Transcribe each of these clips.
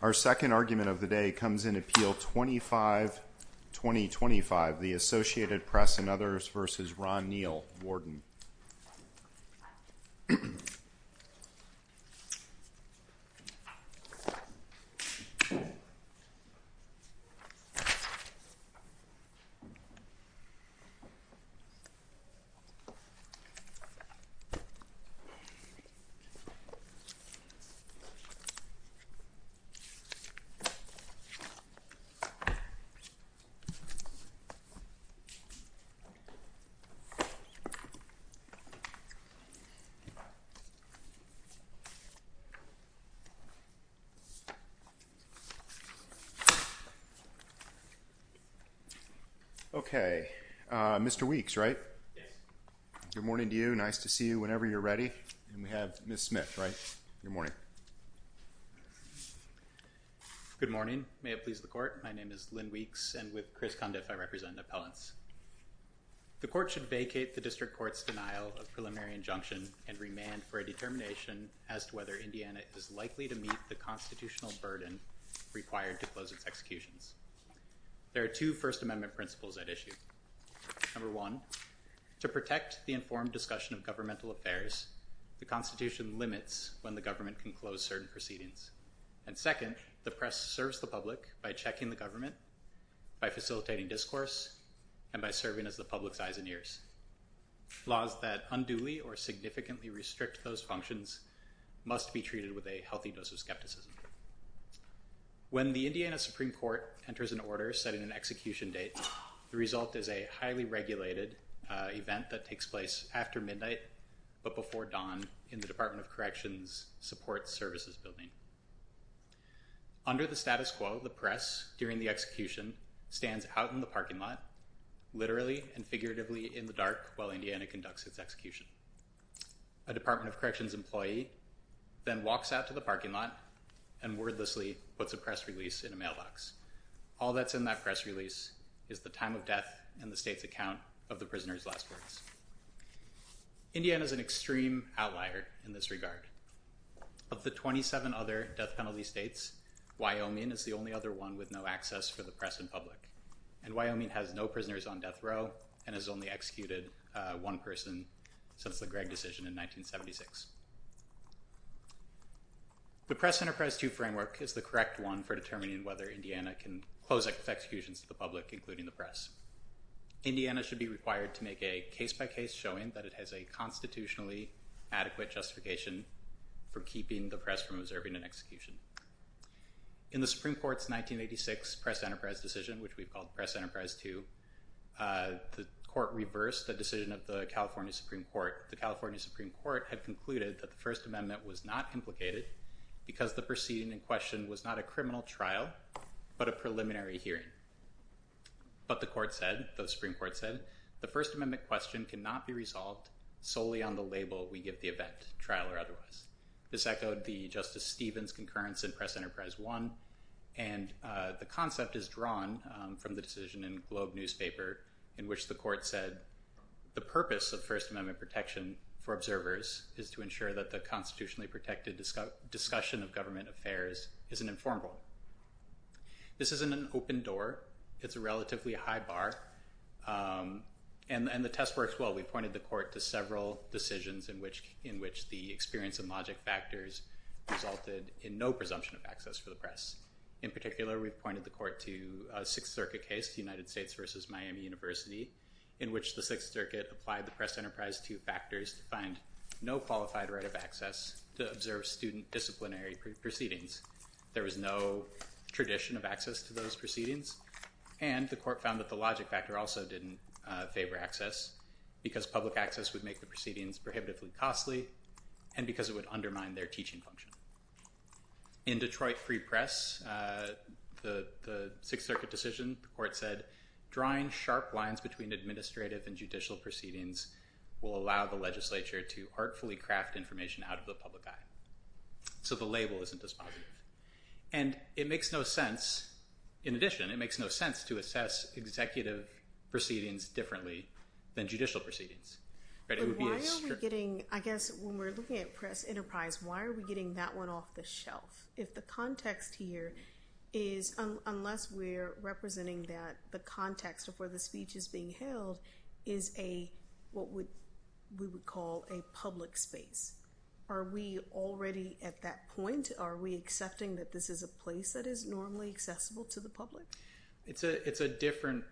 Our second argument of the day comes in Appeal 25-2025. The Associated Press and others v. Ron Neal, Warden. Okay. Mr. Weeks, right? Yes. Good morning to you. Nice to see you whenever you're ready. And we have Ms. Smith, right? Good morning. Good morning. May it please the Court. My name is Lynn Weeks, and with Chris Condiff, I represent an appellant. The Court should vacate the District Court's denial of preliminary injunction and remand for a determination as to whether Indiana is likely to meet the constitutional burden required to close its executions. There are two First Amendment principles at issue. Number one, to protect the informed discussion of governmental affairs, the Constitution limits when the government can close certain proceedings. And second, the press serves the public by checking the government, by facilitating discourse, and by serving as the public's eyes and ears. Laws that unduly or significantly restrict those functions must be treated with a healthy dose of skepticism. When the Indiana Supreme Court enters an order setting an execution date, the result is a highly regulated event that takes place after midnight, but before dawn, in the Department of Corrections Support Services Building. Under the status quo, the press, during the execution, stands out in the parking lot, literally and figuratively in the dark, while Indiana conducts its execution. A Department of Corrections employee then walks out to the parking lot and wordlessly puts a press release in a mailbox. All that's in that press release is the time of death and the state's account of the prisoners' last words. Indiana is an extreme outlier in this regard. Of the 27 other death penalty states, Wyoming is the only other one with no access for the press in public. And Wyoming has no prisoners on death row and has only executed one person since the Gregg decision in 1976. The Press Enterprise 2 framework is the correct one for determining whether Indiana can close executions to the public, including the press. Indiana should be required to make a case-by-case showing that it has a constitutionally adequate justification for keeping the press from observing an execution. In the Supreme Court's 1986 Press Enterprise decision, which we've called Press Enterprise 2, the court reversed the decision of the California Supreme Court. The California Supreme Court had concluded that the First Amendment was not implicated because the proceeding in question was not a criminal trial but a preliminary hearing. But the Supreme Court said, the First Amendment question cannot be resolved solely on the label we give the event, trial or otherwise. This echoed the Justice Stevens concurrence in Press Enterprise 1. And the concept is drawn from the decision in Globe newspaper in which the court said, the purpose of First Amendment protection for observers is to ensure that the constitutionally protected discussion of government affairs isn't informal. This isn't an open door. It's a relatively high bar. And the test works well. We pointed the court to several decisions in which the experience and logic factors resulted in no presumption of access for the press. In particular, we've pointed the court to a Sixth Circuit case, United States v. Miami University, in which the Sixth Circuit applied the Press Enterprise 2 factors to find no qualified right of access to observe student disciplinary proceedings. There was no tradition of access to those proceedings. And the court found that the logic factor also didn't favor access because public access would make the proceedings prohibitively costly and because it would undermine their teaching function. In Detroit Free Press, the Sixth Circuit decision, the court said, drawing sharp lines between administrative and judicial proceedings will allow the legislature to artfully craft information out of the public eye. So the label isn't dispositive. And it makes no sense, in addition, it makes no sense to assess executive proceedings differently than judicial proceedings. But why are we getting, I guess, when we're looking at Press Enterprise, why are we getting that one off the shelf? If the context here is, unless we're representing that the context of where the speech is being held is a, what we would call a public space. Are we already at that point? Are we accepting that this is a place that is normally accessible to the public? It's a different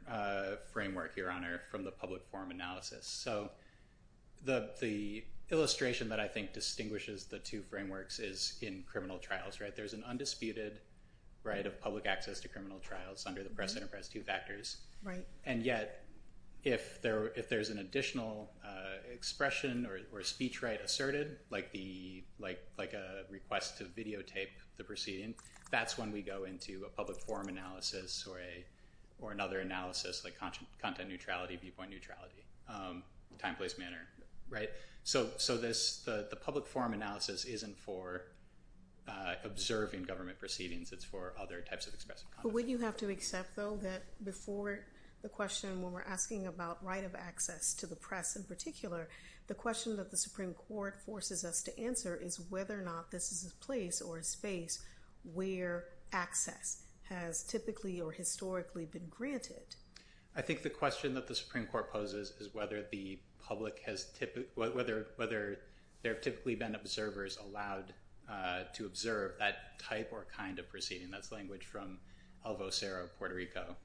framework, Your Honor, from the public forum analysis. So the illustration that I think distinguishes the two frameworks is in criminal trials, right? There's an undisputed right of public access to criminal trials under the Press Enterprise 2 factors. And yet, if there's an additional expression or speech right asserted, like a request to videotape the proceeding, that's when we go into a public forum analysis or another analysis like content neutrality, viewpoint neutrality, time, place, manner, right? So the public forum analysis isn't for observing government proceedings. It's for other types of expressive content. But would you have to accept, though, that before the question when we're asking about right of access to the press in particular, the question that the Supreme Court forces us to answer is whether or not this is a place or a space where access has typically or historically been granted. I think the question that the Supreme Court poses is whether the public has typically, whether there have typically been observers allowed to observe that type or kind of proceeding. That's language from El Vocero, Puerto Rico,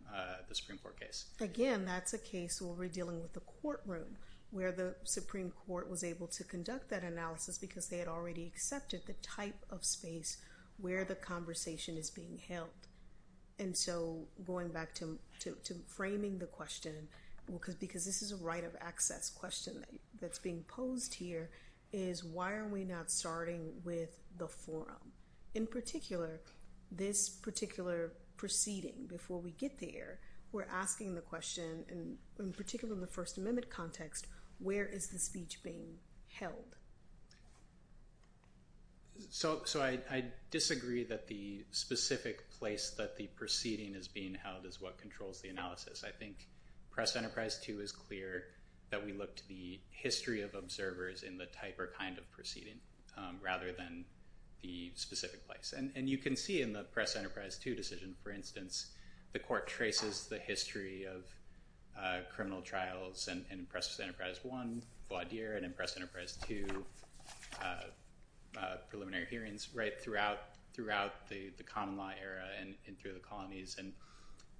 the Supreme Court case. Again, that's a case where we're dealing with the courtroom, where the Supreme Court was able to conduct that analysis because they had already accepted the type of space where the conversation is being held. And so going back to framing the question, because this is a right of access question that's being posed here, is why are we not starting with the forum? In particular, this particular proceeding, before we get there, we're asking the question, in particular in the First Amendment context, where is the speech being held? So I disagree that the specific place that the proceeding is being held is what controls the analysis. I think Press Enterprise 2 is clear that we look to the history of observers in the type or kind of proceeding rather than the specific place. And you can see in the Press Enterprise 2 decision, for instance, the court traces the history of criminal trials in Press Enterprise 1, Vaudeer, and in Press Enterprise 2, preliminary hearings, throughout the common law era and through the colonies. And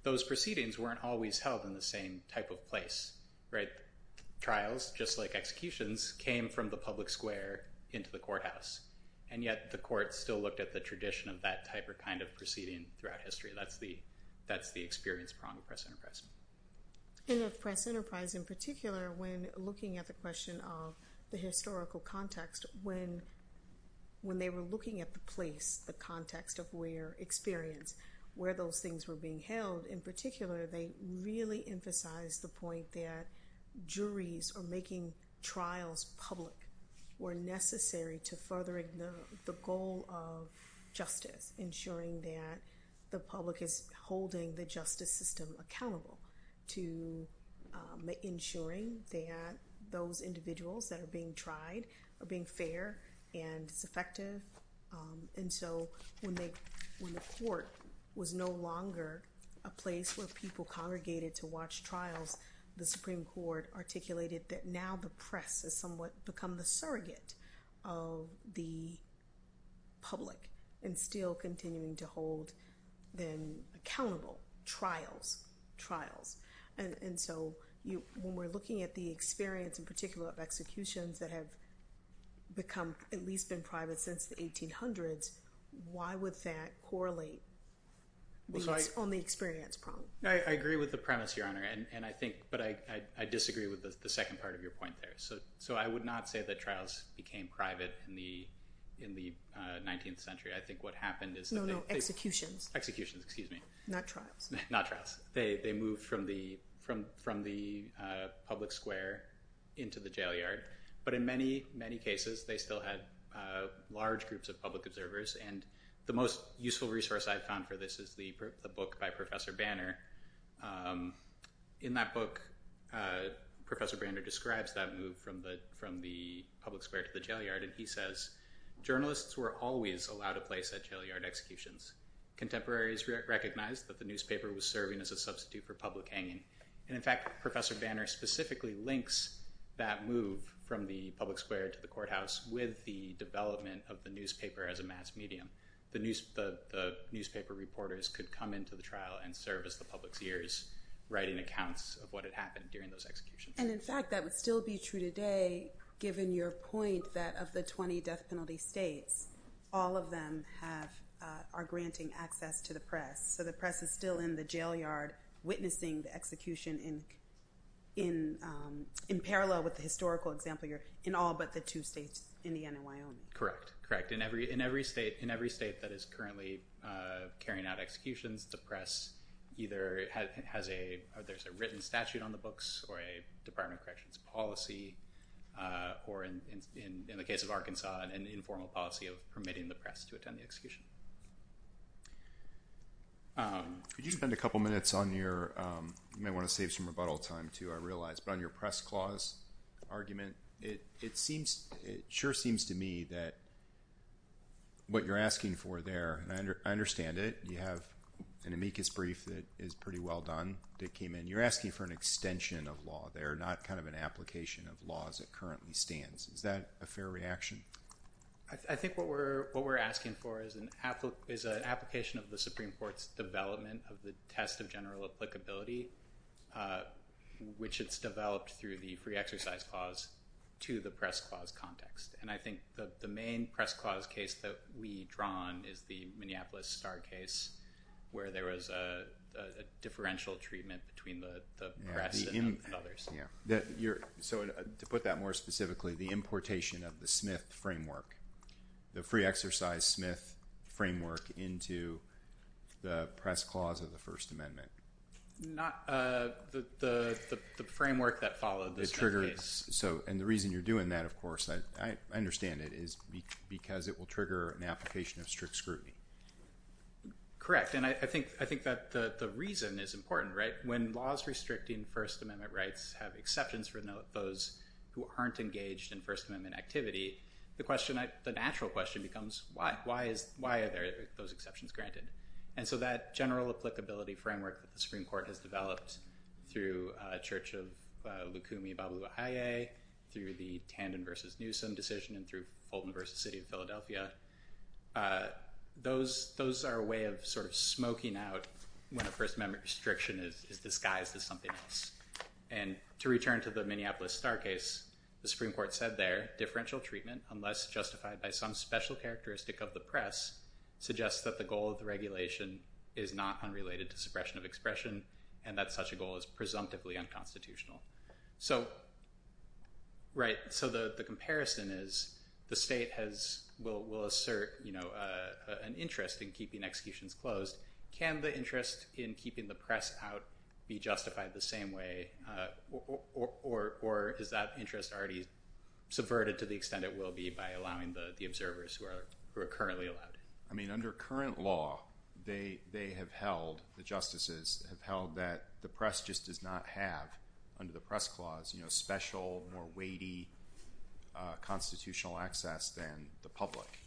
those proceedings weren't always held in the same type of place. Trials, just like executions, came from the public square into the courthouse. And yet the court still looked at the tradition of that type or kind of proceeding throughout history. That's the experience prong of Press Enterprise. In the Press Enterprise, in particular, when looking at the question of the historical context, when they were looking at the place, the context of where experience, where those things were being held, in particular, they really emphasized the point that juries are making trials public or necessary to furthering the goal of justice, ensuring that the public is holding the justice system accountable to ensuring that those individuals that are being tried are being fair and it's effective. And so when the court was no longer a place where people congregated to watch trials, the Supreme Court articulated that now the press has somewhat become the surrogate of the public and still continuing to hold them accountable, trials, trials. And so when we're looking at the experience, in particular, of executions that have become at least been private since the 1800s, why would that correlate on the experience prong? I agree with the premise, Your Honor, but I disagree with the second part of your point there. So I would not say that trials became private in the 19th century. I think what happened is that they... No, no, executions. Executions, excuse me. Not trials. Not trials. They moved from the public square into the jail yard. But in many, many cases, they still had large groups of public observers. And the most useful resource I've found for this is the book by Professor Banner. In that book, Professor Banner describes that move from the public square to the jail yard, and he says, Journalists were always allowed a place at jail yard executions. Contemporaries recognized that the newspaper was serving as a substitute for public hanging. And in fact, Professor Banner specifically links that move from the public square to the courthouse with the development of the newspaper as a mass medium. The newspaper reporters could come into the trial and serve as the public's ears, writing accounts of what had happened during those executions. And in fact, that would still be true today, given your point that of the 20 death penalty states, all of them are granting access to the press. So the press is still in the jail yard witnessing the execution in parallel with the historical example here, in all but the two states, Indiana and Wyoming. Correct. Correct. In every state that is currently carrying out executions, the press either has a—there's a written statute on the books or a Department of Corrections policy, or in the case of Arkansas, an informal policy of permitting the press to attend the execution. Could you spend a couple minutes on your—you might want to save some rebuttal time, too, I realize—but on your press clause argument? It seems—it sure seems to me that what you're asking for there—and I understand it. You have an amicus brief that is pretty well done that came in. You're asking for an extension of law there, not kind of an application of law as it currently stands. Is that a fair reaction? I think what we're asking for is an application of the Supreme Court's development of the test of general applicability, which it's developed through the free exercise clause, to the press clause context. And I think the main press clause case that we draw on is the Minneapolis Star case, where there was a differential treatment between the press and others. So to put that more specifically, the importation of the Smith framework, the free exercise Smith framework into the press clause of the First Amendment. Not the framework that followed the Smith case. And the reason you're doing that, of course, I understand it, is because it will trigger an application of strict scrutiny. Correct, and I think that the reason is important, right? When laws restricting First Amendment rights have exceptions for those who aren't engaged in First Amendment activity, the question—the natural question becomes, why? Why are those exceptions granted? And so that general applicability framework that the Supreme Court has developed through Church of Lukumi Babu-Iye, through the Tandon v. Newsom decision, and through Fulton v. City of Philadelphia, those are a way of sort of smoking out when a First Amendment restriction is disguised as something else. And to return to the Minneapolis Star case, the Supreme Court said there, differential treatment, unless justified by some special characteristic of the press, suggests that the goal of the regulation is not unrelated to suppression of expression, and that such a goal is presumptively unconstitutional. So, right, so the comparison is, the state will assert an interest in keeping executions closed. Can the interest in keeping the press out be justified the same way, or is that interest already subverted to the extent it will be by allowing the observers who are currently allowed in? I mean, under current law, they have held, the justices have held, that the press just does not have, under the press clause, special, more weighty constitutional access than the public.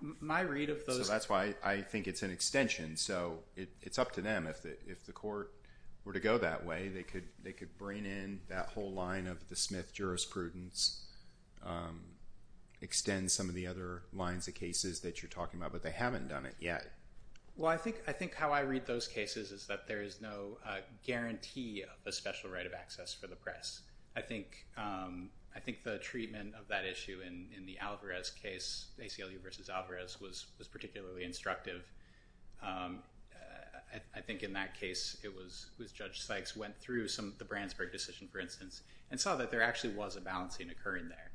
So that's why I think it's an extension. So it's up to them, if the court were to go that way, they could bring in that whole line of the Smith jurisprudence, extend some of the other lines of cases that you're talking about, but they haven't done it yet. Well, I think how I read those cases is that there is no guarantee of a special right of access for the press. I think the treatment of that issue in the Alvarez case, ACLU versus Alvarez, was particularly instructive. I think in that case, it was, Judge Sykes went through some of the Brandsburg decision, for instance, and saw that there actually was a balancing occurring there,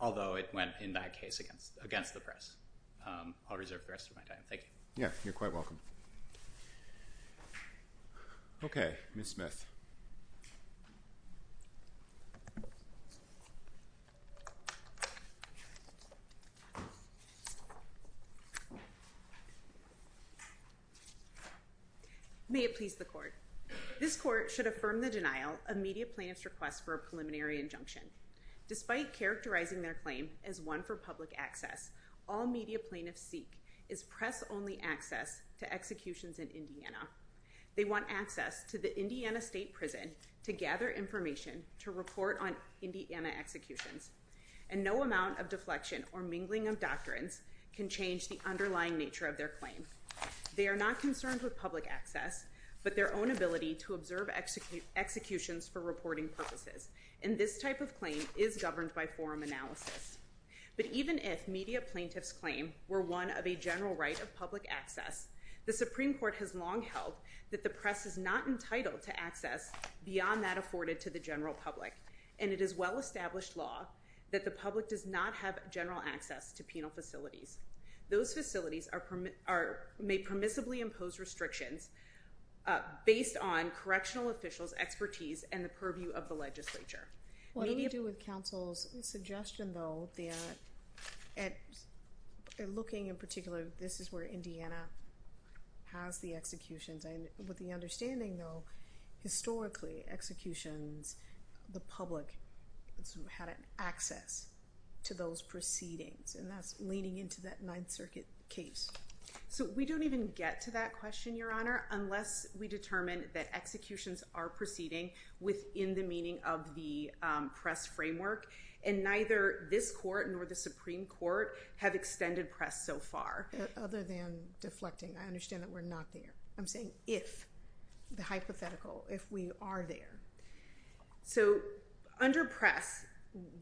although it went, in that case, against the press. I'll reserve the rest of my time. Thank you. Yeah, you're quite welcome. Okay, Ms. Smith. May it please the court. This court should affirm the denial of media plaintiffs' request for a preliminary injunction. Despite characterizing their claim as one for public access, all media plaintiffs seek is press-only access to executions in Indiana. They want access to the Indiana State Prison to gather information to report on Indiana executions, and no amount of deflection or mingling of doctrines can change the underlying nature of their claim. They are not concerned with public access, but their own ability to observe executions for reporting purposes. And this type of claim is governed by forum analysis. But even if media plaintiffs' claim were one of a general right of public access, the Supreme Court has long held that the press is not entitled to access beyond that afforded to the general public, and it is well-established law that the public does not have general access to penal facilities. Those facilities may permissibly impose restrictions based on correctional officials' expertise and the purview of the legislature. What do we do with counsel's suggestion, though, at looking in particular, this is where Indiana has the executions? With the understanding, though, historically executions, the public had access to those proceedings, and that's leaning into that Ninth Circuit case. So we don't even get to that question, Your Honor, unless we determine that executions are proceeding within the meaning of the press framework. And neither this court nor the Supreme Court have extended press so far. Other than deflecting, I understand that we're not there. I'm saying if, the hypothetical, if we are there. So under press,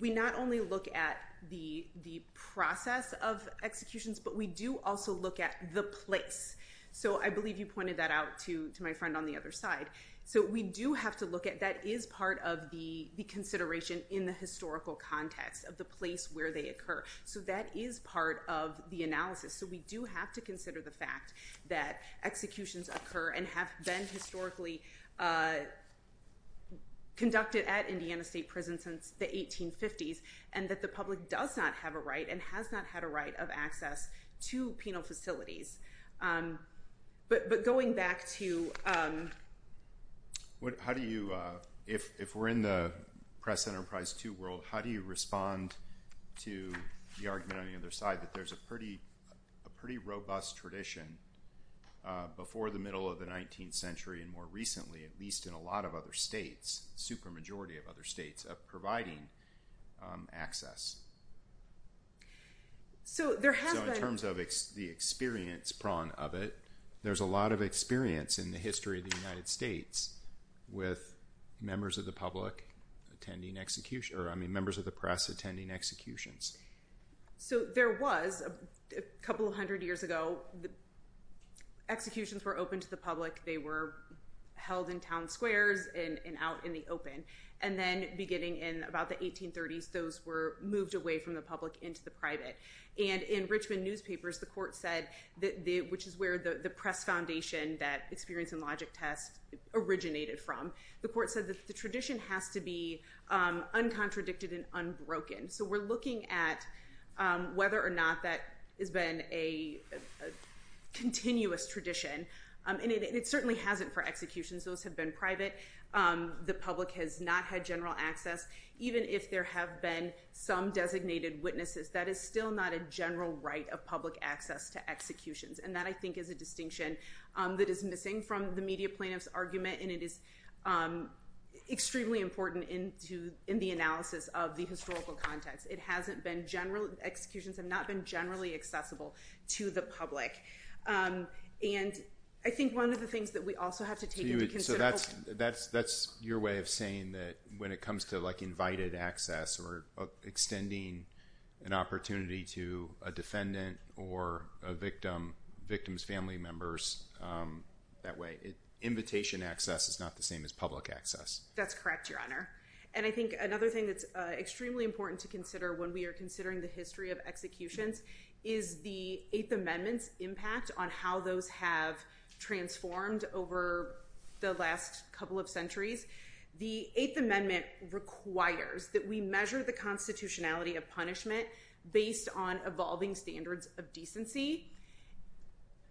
we not only look at the process of executions, but we do also look at the place. So I believe you pointed that out to my friend on the other side. So we do have to look at that is part of the consideration in the historical context of the place where they occur. So that is part of the analysis. So we do have to consider the fact that executions occur and have been historically conducted at Indiana State Prison since the 1850s, and that the public does not have a right and has not had a right of access to penal facilities. But going back to... How do you, if we're in the press enterprise 2 world, how do you respond to the argument on the other side that there's a pretty robust tradition before the middle of the 19th century and more recently, at least in a lot of other states, super majority of other states, of providing access? So there has been... There's a lot of experience in the history of the United States with members of the public attending execution, or I mean, members of the press attending executions. So there was, a couple of hundred years ago, executions were open to the public. They were held in town squares and out in the open. And then beginning in about the 1830s, those were moved away from the public into the private. And in Richmond newspapers, the court said, which is where the press foundation that Experience and Logic Test originated from, the court said that the tradition has to be uncontradicted and unbroken. So we're looking at whether or not that has been a continuous tradition. And it certainly hasn't for executions. Those have been private. The public has not had general access, even if there have been some designated witnesses. That is still not a general right of public access to executions. And that, I think, is a distinction that is missing from the media plaintiff's argument. And it is extremely important in the analysis of the historical context. It hasn't been generally... Executions have not been generally accessible to the public. And I think one of the things that we also have to take into consideration... That's your way of saying that when it comes to invited access or extending an opportunity to a defendant or a victim's family members that way, invitation access is not the same as public access. That's correct, Your Honor. And I think another thing that's extremely important to consider when we are considering the history of executions is the Eighth Amendment's impact on how those have transformed over the last couple of centuries. The Eighth Amendment requires that we measure the constitutionality of punishment based on evolving standards of decency.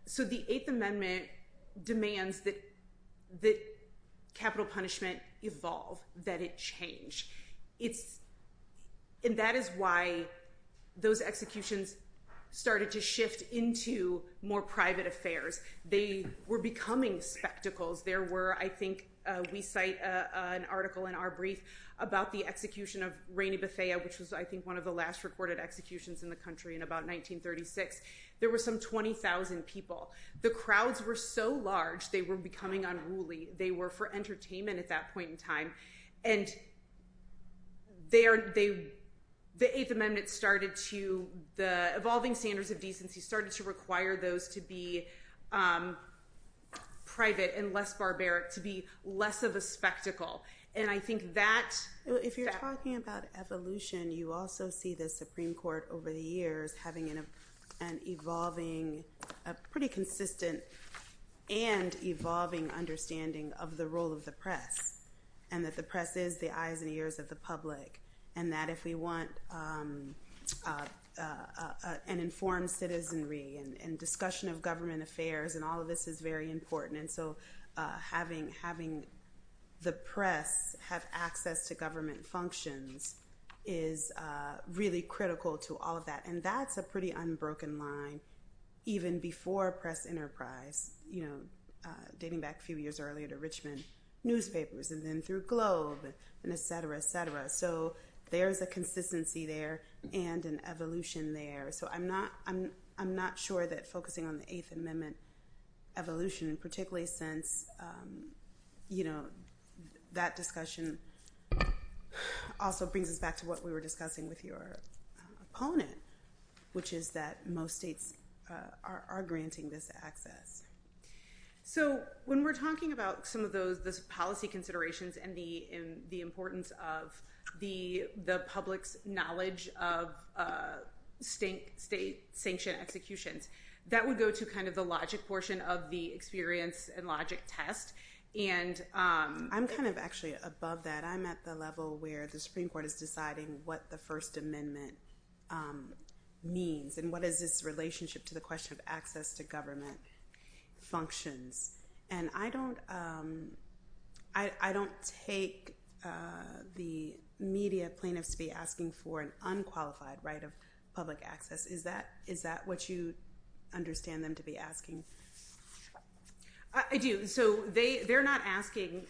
So the Eighth Amendment demands that capital punishment evolve, that it change. And that is why those executions started to shift into more private affairs. They were becoming spectacles. There were, I think, we cite an article in our brief about the execution of Rainey Bethea, which was, I think, one of the last recorded executions in the country in about 1936. There were some 20,000 people. The crowds were so large, they were becoming unruly. They were for entertainment at that point in time. And the Eighth Amendment started to, the evolving standards of decency, started to require those to be private and less barbaric, to be less of a spectacle. And I think that— If you're talking about evolution, you also see the Supreme Court over the years having an evolving, a pretty consistent and evolving understanding of the role of the press, and that the press is the eyes and ears of the public, and that if we want an informed citizenry and discussion of government affairs, and all of this is very important. And so having the press have access to government functions is really critical to all of that. And that's a pretty unbroken line, even before press enterprise, dating back a few years earlier to Richmond newspapers, and then through Globe, and et cetera, et cetera. So there's a consistency there and an evolution there. So I'm not sure that focusing on the Eighth Amendment evolution, particularly since that discussion also brings us back to what we were discussing with your opponent, which is that most states are granting this access. So when we're talking about some of those policy considerations and the importance of the public's knowledge of state-sanctioned executions, that would go to kind of the logic portion of the experience and logic test. I'm kind of actually above that. I'm at the level where the Supreme Court is deciding what the First Amendment means and what is this relationship to the question of access to government functions. And I don't take the media plaintiffs to be asking for an unqualified right of public access. Is that what you understand them to be asking? I do. So they're not asking.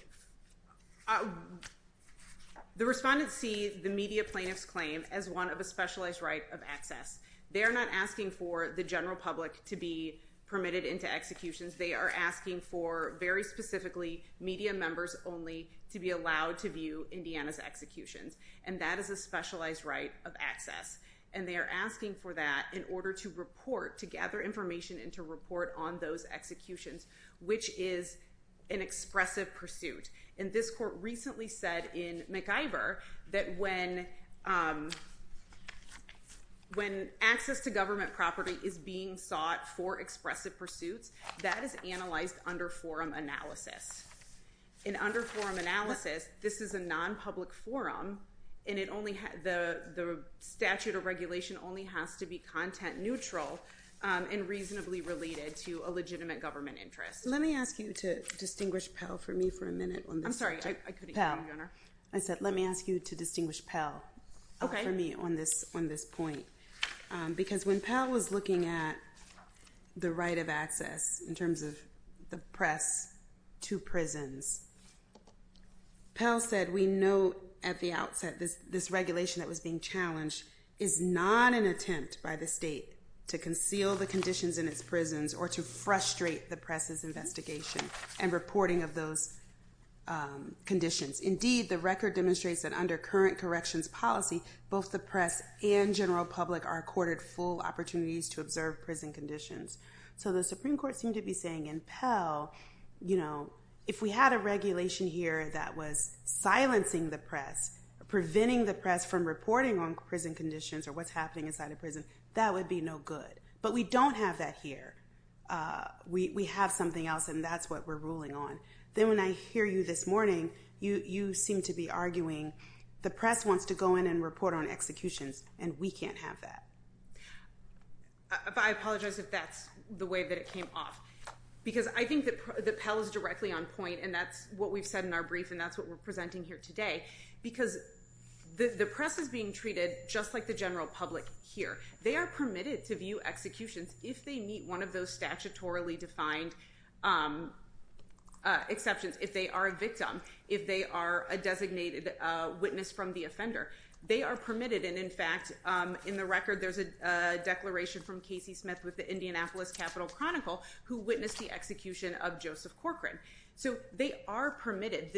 The respondents see the media plaintiffs' claim as one of a specialized right of access. They are not asking for the general public to be permitted into executions. They are asking for, very specifically, media members only to be allowed to view Indiana's executions, and that is a specialized right of access. And they are asking for that in order to report, to gather information and to report on those executions, which is an expressive pursuit. And this court recently said in MacIver that when access to government property is being sought for expressive pursuits, that is analyzed under forum analysis. And under forum analysis, this is a nonpublic forum, and the statute of regulation only has to be content neutral and reasonably related to a legitimate government interest. Let me ask you to distinguish Pell for me for a minute on this subject. I'm sorry, I couldn't hear you, Your Honor. I said let me ask you to distinguish Pell for me on this point. Because when Pell was looking at the right of access in terms of the press to prisons, Pell said we know at the outset this regulation that was being challenged is not an attempt by the state to conceal the conditions in its prisons or to frustrate the press's investigation and reporting of those conditions. Indeed, the record demonstrates that under current corrections policy, both the press and general public are accorded full opportunities to observe prison conditions. So the Supreme Court seemed to be saying in Pell, you know, if we had a regulation here that was silencing the press, preventing the press from reporting on prison conditions or what's happening inside a prison, that would be no good. But we don't have that here. We have something else, and that's what we're ruling on. Then when I hear you this morning, you seem to be arguing the press wants to go in and report on executions, and we can't have that. I apologize if that's the way that it came off. Because I think that Pell is directly on point, and that's what we've said in our brief, and that's what we're presenting here today. Because the press is being treated just like the general public here. They are permitted to view executions if they meet one of those statutorily defined exceptions, if they are a victim, if they are a designated witness from the offender. They are permitted. And, in fact, in the record there's a declaration from Casey Smith with the Indianapolis Capital Chronicle who witnessed the execution of Joseph Corcoran. So they are permitted.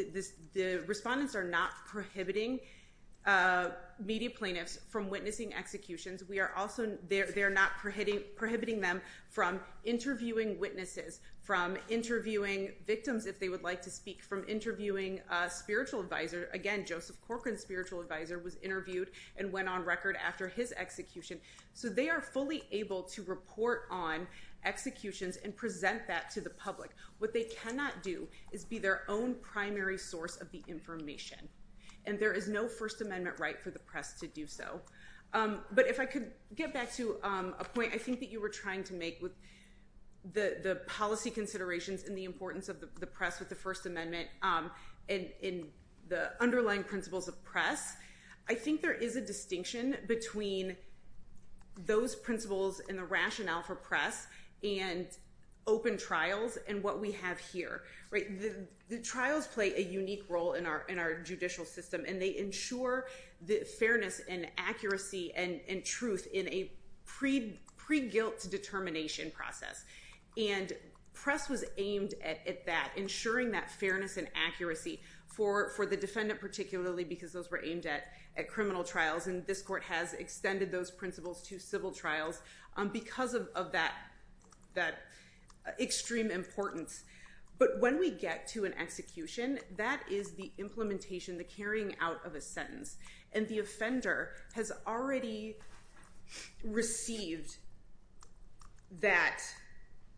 The respondents are not prohibiting media plaintiffs from witnessing executions. They're not prohibiting them from interviewing witnesses, from interviewing victims, if they would like to speak, from interviewing a spiritual advisor. Again, Joseph Corcoran's spiritual advisor was interviewed and went on record after his execution. So they are fully able to report on executions and present that to the public. What they cannot do is be their own primary source of the information. And there is no First Amendment right for the press to do so. But if I could get back to a point I think that you were trying to make with the policy considerations and the importance of the press with the First Amendment and the underlying principles of press, I think there is a distinction between those principles and the rationale for press and open trials and what we have here. The trials play a unique role in our judicial system, and they ensure the fairness and accuracy and truth in a pre-guilt determination process. And press was aimed at that, ensuring that fairness and accuracy for the defendant, particularly because those were aimed at criminal trials, and this court has extended those principles to civil trials because of that extreme importance. But when we get to an execution, that is the implementation, the carrying out of a sentence. And the offender has already received that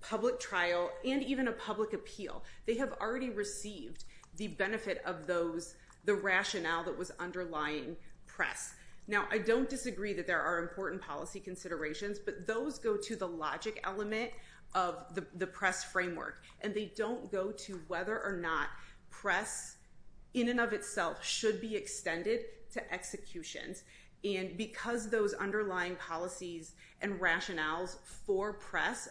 public trial and even a public appeal. They have already received the benefit of those, the rationale that was underlying press. Now, I don't disagree that there are important policy considerations, but those go to the logic element of the press framework, and they don't go to whether or not press in and of itself should be extended to executions. And because those underlying policies and rationales for press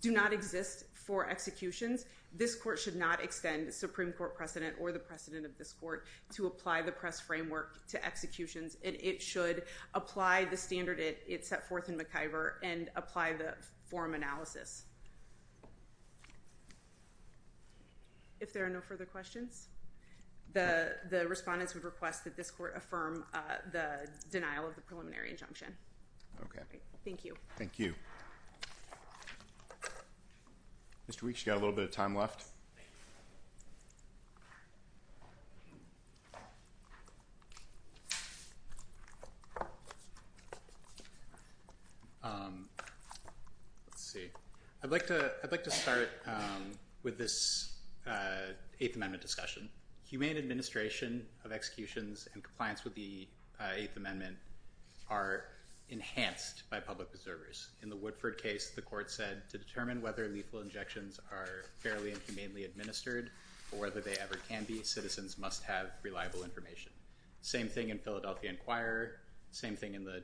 do not exist for executions, this court should not extend a Supreme Court precedent or the precedent of this court to apply the press framework to executions, and it should apply the standard it set forth in McIver and apply the forum analysis. If there are no further questions, the respondents would request that this court affirm the denial of the preliminary injunction. Thank you. Thank you. Mr. Weeks, you've got a little bit of time left. Let's see. I'd like to start with this Eighth Amendment discussion. Humane administration of executions in compliance with the Eighth Amendment are enhanced by public observers. In the Woodford case, the court said, to determine whether lethal injections are fairly and humanely administered or whether they ever can be, citizens must have reliable information. Same thing in Philadelphia Inquirer. Same thing in the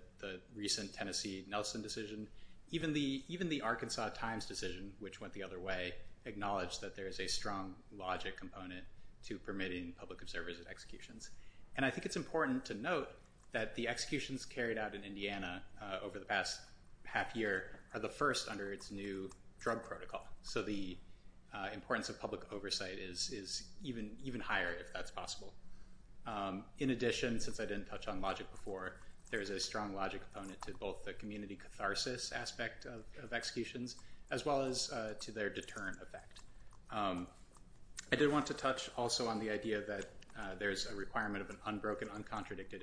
recent Tennessee Nelson decision. Even the Arkansas Times decision, which went the other way, acknowledged that there is a strong logic component to permitting public observers at executions. And I think it's important to note that the executions carried out in Indiana over the past half year are the first under its new drug protocol. So the importance of public oversight is even higher if that's possible. In addition, since I didn't touch on logic before, there is a strong logic component to both the community catharsis aspect of executions, as well as to their deterrent effect. I did want to touch also on the idea that there's a requirement of an unbroken, uncontradicted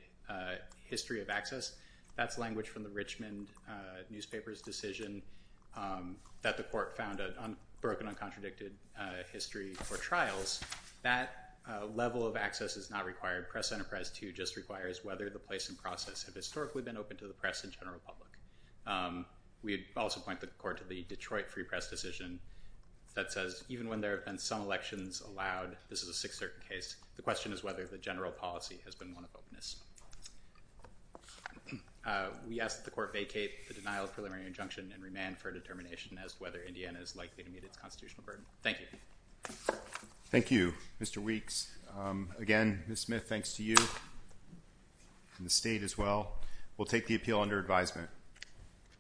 history of access. That's language from the Richmond newspaper's decision that the court found a broken, uncontradicted history for trials. That level of access is not required. Press Enterprise 2 just requires whether the place and process have historically been open to the press and general public. We also point the court to the Detroit Free Press decision that says even when there have been some elections allowed, this is a 6-3 case, the question is whether the general policy has been one of openness. We ask that the court vacate the denial of preliminary injunction and remand for a determination as to whether Indiana is likely to meet its constitutional burden. Thank you. Thank you, Mr. Weeks. Again, Ms. Smith, thanks to you and the state as well, we'll take the appeal under advisement.